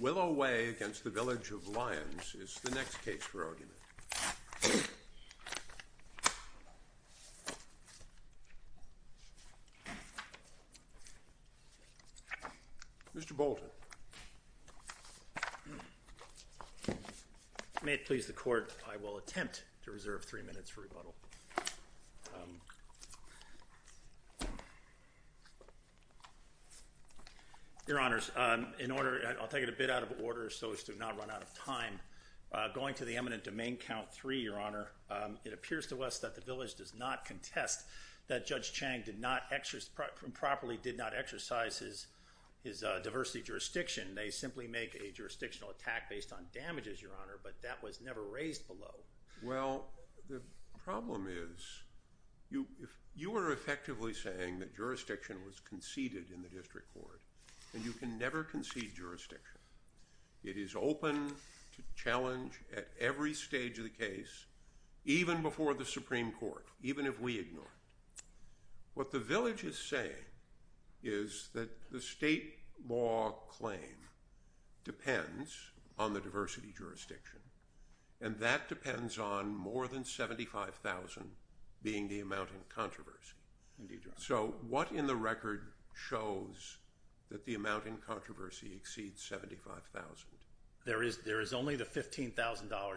Willow Way v. Village of Lyons is the next case for argument. Mr. Bolton. May it please the Court, I will attempt to reserve three minutes for rebuttal. Your Honors, in order, I'll take it a bit out of order so as to not run out of time. Going to the eminent domain count three, Your Honor, it appears to us that the Village does not contest that Judge Chang improperly did not exercise his diversity jurisdiction. They simply make a jurisdictional attack based on damages, Your Honor, but that was never raised below. Well, the problem is, you are effectively saying that jurisdiction was conceded in the District Court, and you can never concede jurisdiction. It is open to challenge at every stage of the case, even before the Supreme Court, even if we ignore it. What the Village is saying is that the state law claim depends on the diversity jurisdiction, and that depends on more than $75,000 being the amount in controversy. Indeed, Your Honor. So what in the record shows that the amount in controversy exceeds $75,000? There is only the $15,000,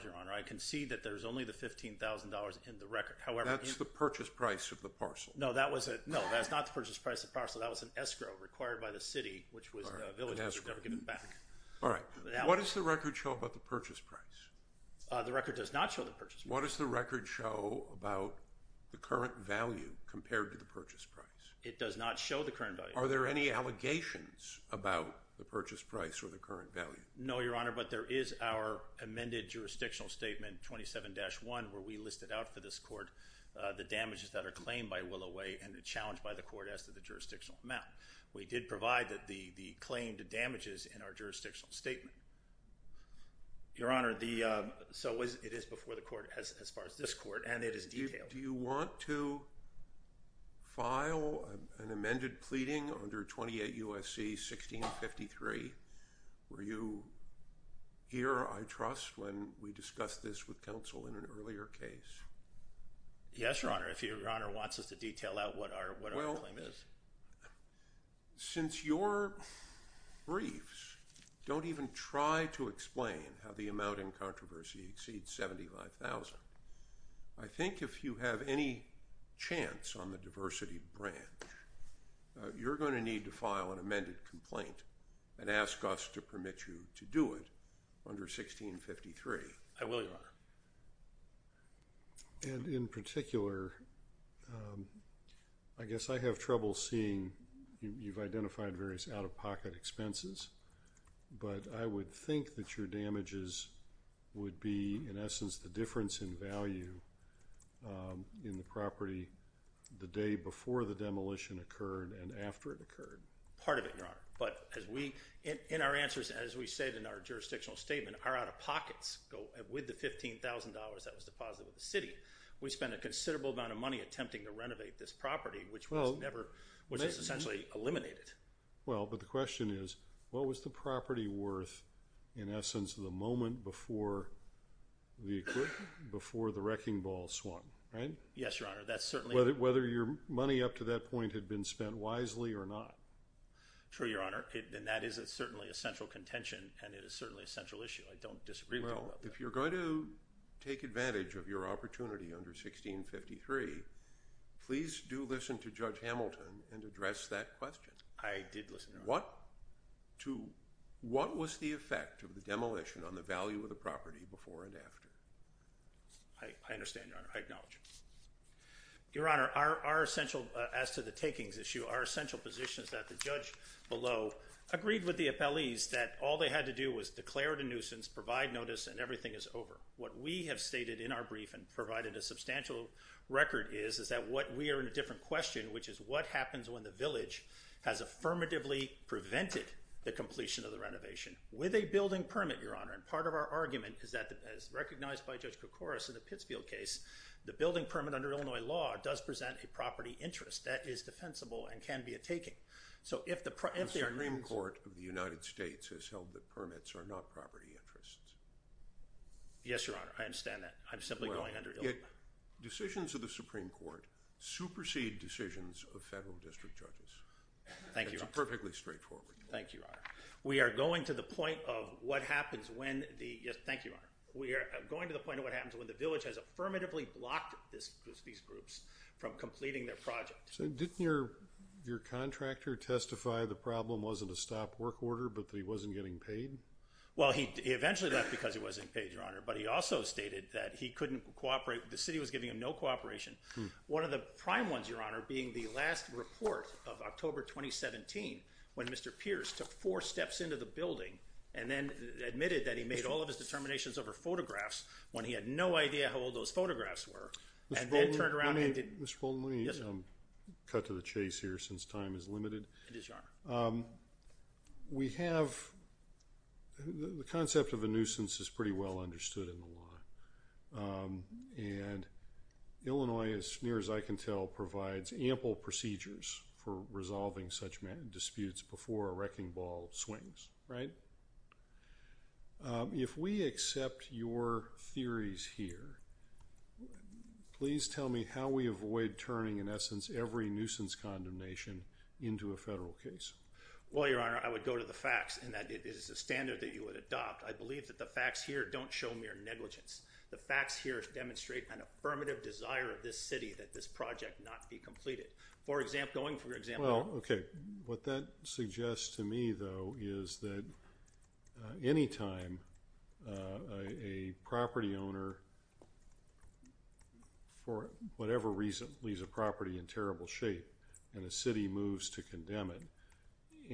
Your Honor. I concede that there is only the $15,000 in the record. That's the purchase price of the parcel. No, that's not the purchase price of the parcel. That was an escrow required by the City, which was the Village, which was never given back. All right. What does the record show about the purchase price? The record does not show the purchase price. What does the record show about the current value compared to the purchase price? It does not show the current value. Are there any allegations about the purchase price or the current value? No, Your Honor, but there is our amended jurisdictional statement, 27-1, where we listed out for this court the damages that are claimed by Willow Way and challenged by the court as to the jurisdictional amount. We did provide the claimed damages in our jurisdictional statement. Your Honor, so it is before the court as far as this court, and it is detailed. Do you want to file an amended pleading under 28 U.S.C. 1653? Were you here, I trust, when we discussed this with counsel in an earlier case? Yes, Your Honor, if Your Honor wants us to detail out what our claim is. Since your briefs don't even try to explain how the amount in controversy exceeds $75,000, I think if you have any chance on the diversity branch, you're going to need to file an amended complaint and ask us to permit you to do it under 1653. And in particular, I guess I have trouble seeing, you've identified various out-of-pocket expenses, but I would think that your damages would be, in essence, the difference in value in the property the day before the demolition occurred and after it occurred. Part of it, Your Honor, but as we, in our answers, as we say in our jurisdictional statement, our out-of-pockets go with the $15,000 that was deposited with the city. We spent a considerable amount of money attempting to renovate this property, which was essentially eliminated. Well, but the question is, what was the property worth in essence the moment before the wrecking ball swung, right? Yes, Your Honor, that's certainly. Whether your money up to that point had been spent wisely or not. True, Your Honor, and that is certainly a central contention, and it is certainly a central issue. I don't disagree with you about that. Well, if you're going to take advantage of your opportunity under 1653, please do listen to Judge Hamilton and address that question. I did listen, Your Honor. What was the effect of the demolition on the value of the property before and after? I understand, Your Honor. I acknowledge it. Your Honor, our essential, as to the takings issue, our essential position is that the judge below agreed with the appellees that all they had to do was declare it a nuisance, provide notice, and everything is over. What we have stated in our brief and provided a substantial record is that we are in a different question, which is what happens when the village has affirmatively prevented the completion of the renovation? With a building permit, Your Honor, and part of our argument is that, as recognized by Judge Koukouris in the Pittsfield case, the building permit under Illinois law does present a property interest that is defensible and can be a taking. So if the… The Supreme Court of the United States has held that permits are not property interests. Yes, Your Honor, I understand that. I'm simply going under Illinois. Decisions of the Supreme Court supersede decisions of federal district judges. Thank you, Your Honor. It's perfectly straightforward. Thank you, Your Honor. We are going to the point of what happens when the… Yes, thank you, Your Honor. We are going to the point of what happens when the village has affirmatively blocked these groups from completing their project. So didn't your contractor testify the problem wasn't a stop work order but that he wasn't getting paid? Well, he eventually left because he wasn't paid, Your Honor, but he also stated that he couldn't cooperate, the city was giving him no cooperation. One of the prime ones, Your Honor, being the last report of October 2017 when Mr. Pierce took four steps into the building and then admitted that he made all of his determinations over photographs when he had no idea how old those photographs were. Mr. Bolton, let me cut to the chase here since time is limited. We have…the concept of a nuisance is pretty well understood in the law. And Illinois, as near as I can tell, provides ample procedures for resolving such disputes before a wrecking ball swings, right? If we accept your theories here, please tell me how we avoid turning, in essence, every nuisance condemnation into a federal case. Well, Your Honor, I would go to the facts in that it is a standard that you would adopt. I believe that the facts here don't show mere negligence. The facts here demonstrate an affirmative desire of this city that this project not be completed. For example, going for example… Well, okay. What that suggests to me, though, is that anytime a property owner, for whatever reason, leaves a property in terrible shape and the city moves to condemn it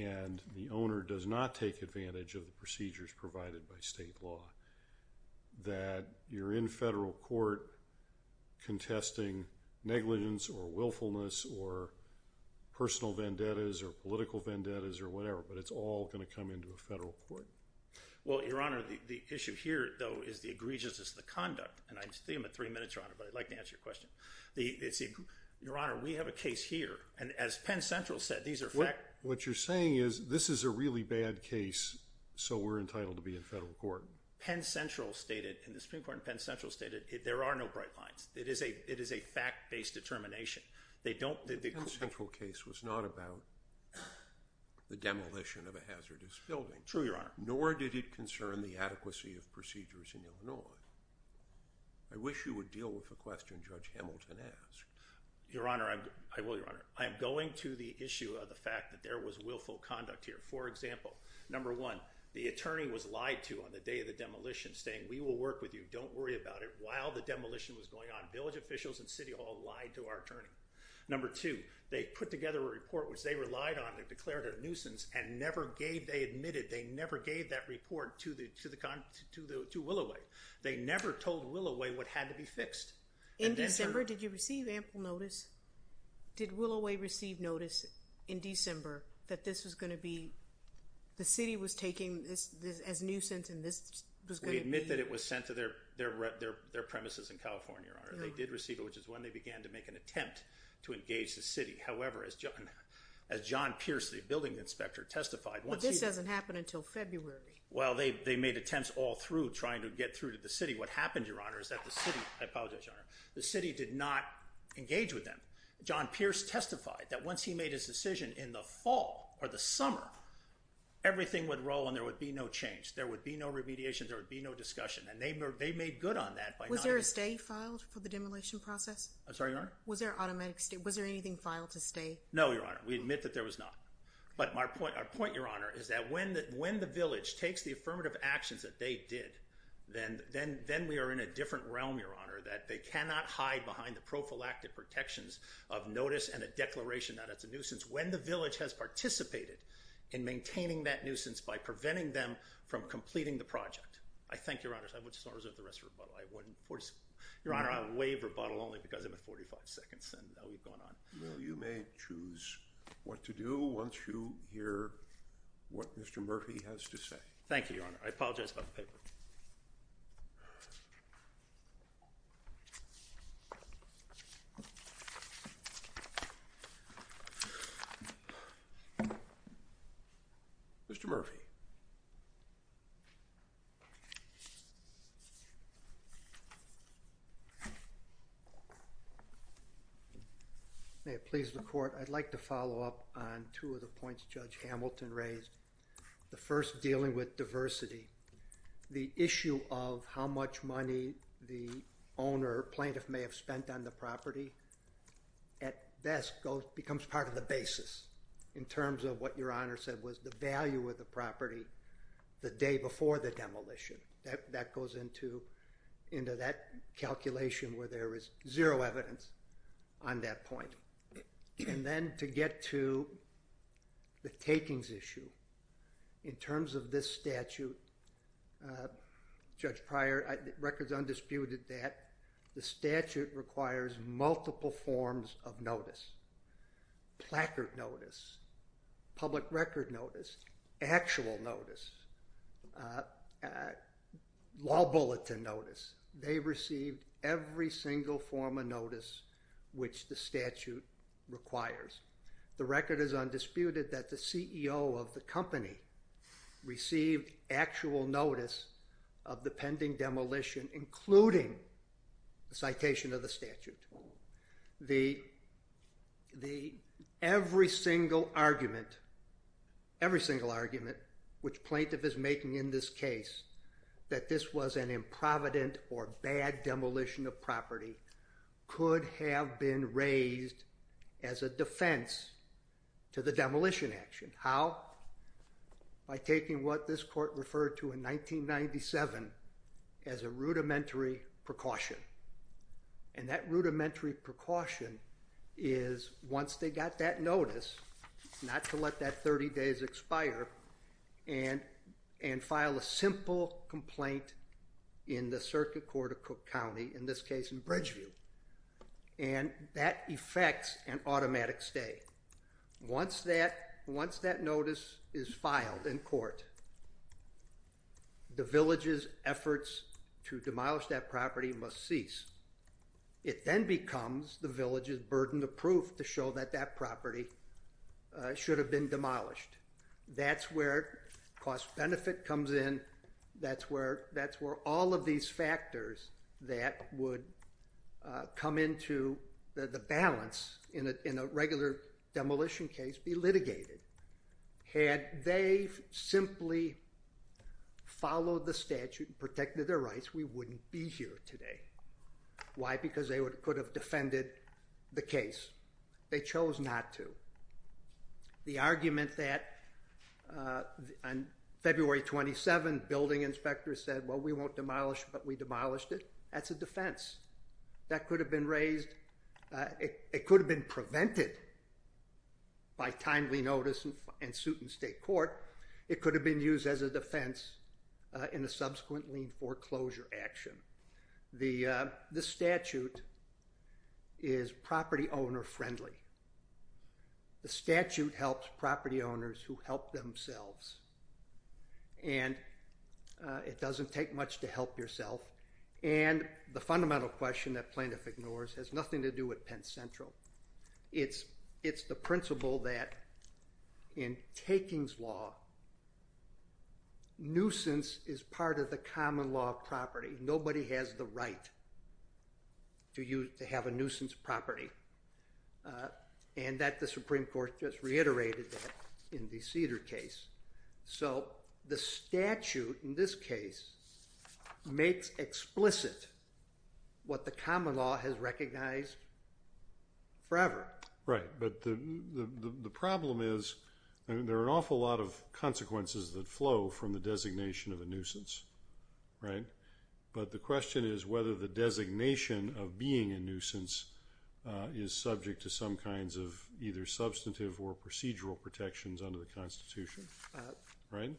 and the owner does not take advantage of the procedures provided by state law, that you're in federal court contesting negligence or willfulness or personal vendettas or political vendettas or whatever. But it's all going to come into a federal court. Well, Your Honor, the issue here, though, is the egregiousness of the conduct. And I see I'm at three minutes, Your Honor, but I'd like to answer your question. Your Honor, we have a case here. And as Penn Central said, these are facts… What you're saying is this is a really bad case, so we're entitled to be in federal court. Penn Central stated, in the Supreme Court, Penn Central stated there are no bright lines. It is a fact-based determination. The Penn Central case was not about the demolition of a hazardous building. True, Your Honor. Nor did it concern the adequacy of procedures in Illinois. I wish you would deal with the question Judge Hamilton asked. Your Honor, I will, Your Honor. I am going to the issue of the fact that there was willful conduct here. For example, number one, the attorney was lied to on the day of the demolition, saying, We will work with you. Don't worry about it. While the demolition was going on, village officials and city hall lied to our attorney. Number two, they put together a report which they relied on and declared a nuisance and never gave—they admitted they never gave that report to Willoway. They never told Willoway what had to be fixed. In December, did you receive ample notice? Did Willoway receive notice in December that this was going to be—the city was taking this as nuisance and this was going to be— We admit that it was sent to their premises in California, Your Honor. They did receive it, which is when they began to make an attempt to engage the city. However, as John Pierce, the building inspector, testified— But this doesn't happen until February. Well, they made attempts all through trying to get through to the city. What happened, Your Honor, is that the city—I apologize, Your Honor— the city did not engage with them. John Pierce testified that once he made his decision in the fall or the summer, everything would roll and there would be no change. There would be no remediation. There would be no discussion. And they made good on that by not— Was there a stay filed for the demolition process? I'm sorry, Your Honor? Was there automatic—was there anything filed to stay? No, Your Honor. We admit that there was not. But our point, Your Honor, is that when the village takes the affirmative actions that they did, then we are in a different realm, Your Honor, that they cannot hide behind the prophylactic protections of notice and a declaration that it's a nuisance when the village has participated in maintaining that nuisance by preventing them from completing the project. I thank Your Honor. I would just not reserve the rest of the rebuttal. I wouldn't force—Your Honor, I'll waive rebuttal only because I'm at 45 seconds and we've gone on. Well, you may choose what to do once you hear what Mr. Murphy has to say. Thank you, Your Honor. I apologize about the paper. Mr. Murphy. May it please the Court, I'd like to follow up on two of the points Judge Hamilton raised. The first, dealing with diversity. The issue of how much money the owner or plaintiff may have spent on the property at best becomes part of the basis in terms of what Your Honor said was the value of the property the day before the demolition. That goes into that calculation where there is zero evidence on that point. And then to get to the takings issue. In terms of this statute, Judge Pryor records undisputed that the statute requires multiple forms of notice. Placard notice, public record notice, actual notice, law bulletin notice. They received every single form of notice which the statute requires. The record is undisputed that the CEO of the company received actual notice of the pending demolition, including the citation of the statute. Every single argument, every single argument, which plaintiff is making in this case, that this was an improvident or bad demolition of property, could have been raised as a defense to the demolition action. How? By taking what this Court referred to in 1997 as a rudimentary precaution. And that rudimentary precaution is once they got that notice, not to let that 30 days expire, and file a simple complaint in the circuit court of Cook County, in this case in Bridgeview. And that effects an automatic stay. Once that notice is filed in court, the village's efforts to demolish that property must cease. It then becomes the village's burden of proof to show that that property should have been demolished. That's where cost-benefit comes in. That's where all of these factors that would come into the balance in a regular demolition case be litigated. Had they simply followed the statute and protected their rights, we wouldn't be here today. Why? Because they could have defended the case. They chose not to. The argument that on February 27, building inspectors said, well, we won't demolish, but we demolished it, that's a defense. That could have been raised. It could have been prevented by timely notice and suit in state court. It could have been used as a defense in a subsequent lien foreclosure action. This statute is property owner friendly. The statute helps property owners who help themselves. And it doesn't take much to help yourself. And the fundamental question that plaintiff ignores has nothing to do with Penn Central. It's the principle that in takings law, nuisance is part of the common law of property. Nobody has the right to have a nuisance property. And that the Supreme Court just reiterated that in the Cedar case. So the statute in this case makes explicit what the common law has recognized forever. Right, but the problem is there are an awful lot of consequences that flow from the designation of a nuisance. Right, but the question is whether the designation of being a nuisance is subject to some kinds of either substantive or procedural protections under the Constitution. Right?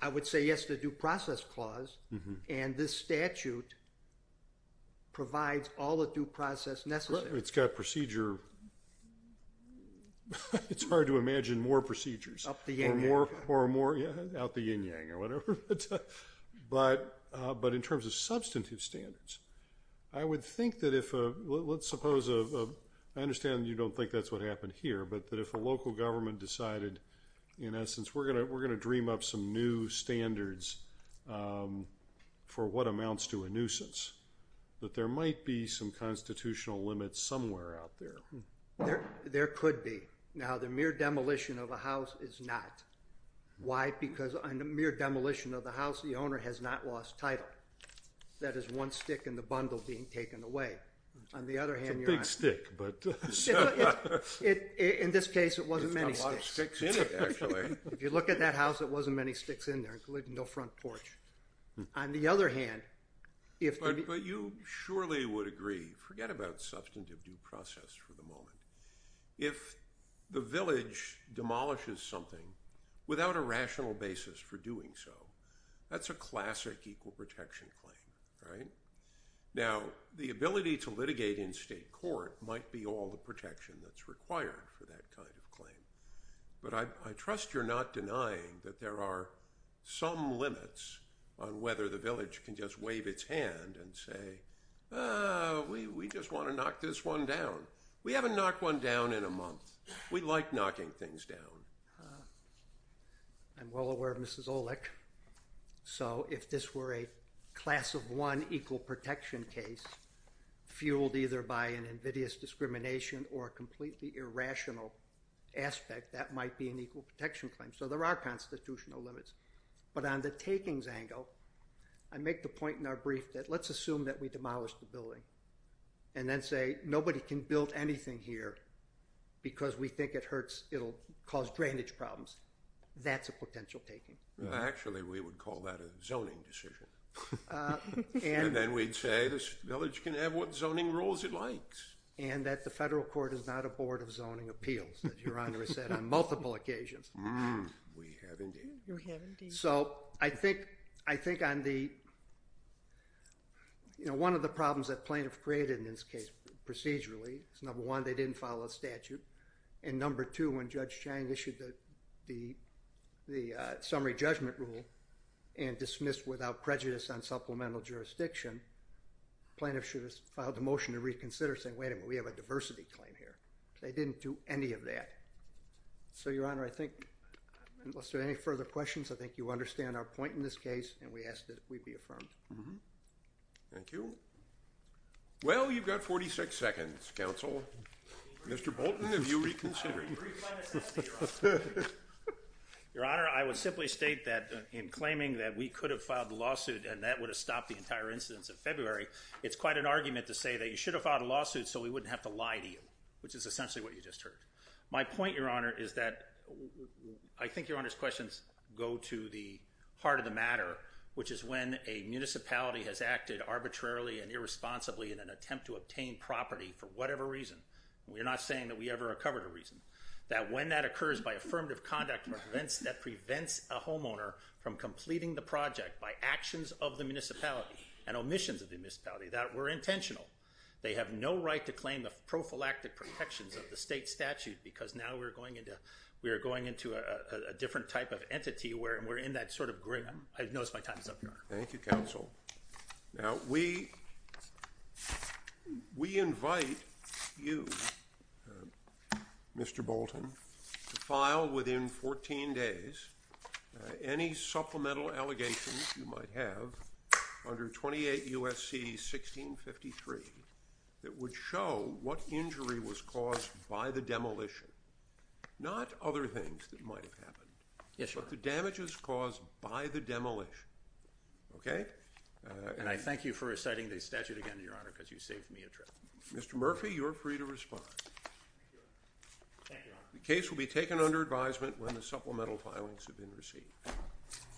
I would say yes to due process clause. And this statute provides all the due process necessary. It's got procedure. It's hard to imagine more procedures. Up the yin-yang. Out the yin-yang or whatever. But in terms of substantive standards, I would think that if a, let's suppose a, I understand you don't think that's what happened here, but that if a local government decided, in essence, we're going to dream up some new standards for what amounts to a nuisance, that there might be some constitutional limits somewhere out there. There could be. Now, the mere demolition of a house is not. Why? Because on the mere demolition of the house, the owner has not lost title. That is one stick in the bundle being taken away. On the other hand, you're on. It's a big stick, but. In this case, it wasn't many sticks. It's got a lot of sticks in it, actually. If you look at that house, it wasn't many sticks in there, including no front porch. On the other hand, if the. But you surely would agree. Forget about substantive due process for the moment. If the village demolishes something without a rational basis for doing so, that's a classic equal protection claim, right? Now, the ability to litigate in state court might be all the protection that's required for that kind of claim. But I trust you're not denying that there are some limits on whether the village can just wave its hand and say, we just want to knock this one down. We haven't knocked one down in a month. We like knocking things down. I'm well aware of Mrs. Olick. So if this were a class of one equal protection case, fueled either by an invidious discrimination or completely irrational aspect, that might be an equal protection claim. So there are constitutional limits. But on the takings angle, I make the point in our brief that let's assume that we demolished the building. And then say, nobody can build anything here because we think it'll cause drainage problems. That's a potential taking. Actually, we would call that a zoning decision. And then we'd say, this village can have what zoning rules it likes. And that the federal court is not a board of zoning appeals, as Your Honor has said on multiple occasions. We have indeed. So I think one of the problems that plaintiff created in this case procedurally is, number one, they didn't follow a statute. And number two, when Judge Chang issued the summary judgment rule and dismissed without prejudice on supplemental jurisdiction, plaintiff should have filed a motion to reconsider saying, wait a minute, we have a diversity claim here. They didn't do any of that. So, Your Honor, I think, unless there are any further questions, I think you understand our point in this case. And we ask that we be affirmed. Thank you. Well, you've got 46 seconds, counsel. Mr. Bolton, have you reconsidered? Your Honor, I would simply state that in claiming that we could have filed a lawsuit and that would have stopped the entire incidents of February, it's quite an argument to say that you should have filed a lawsuit so we wouldn't have to lie to you, which is essentially what you just heard. My point, Your Honor, is that I think Your Honor's questions go to the heart of the matter, which is when a municipality has acted arbitrarily and irresponsibly in an attempt to obtain property for whatever reason, and we're not saying that we ever recovered a reason, that when that occurs by affirmative conduct that prevents a homeowner from completing the project by actions of the municipality and omissions of the municipality that were intentional. They have no right to claim the prophylactic protections of the state statute because now we're going into a different type of entity where we're in that sort of grim. I've noticed my time is up, Your Honor. Thank you, counsel. Now, we invite you, Mr. Bolton, to file within 14 days any supplemental allegations you might have under 28 U.S.C. 1653 that would show what injury was caused by the demolition. Not other things that might have happened, but the damages caused by the demolition. Okay? And I thank you for reciting the statute again, Your Honor, because you saved me a trip. Mr. Murphy, you're free to respond. Thank you, Your Honor. The case will be taken under advisement when the supplemental filings have been received.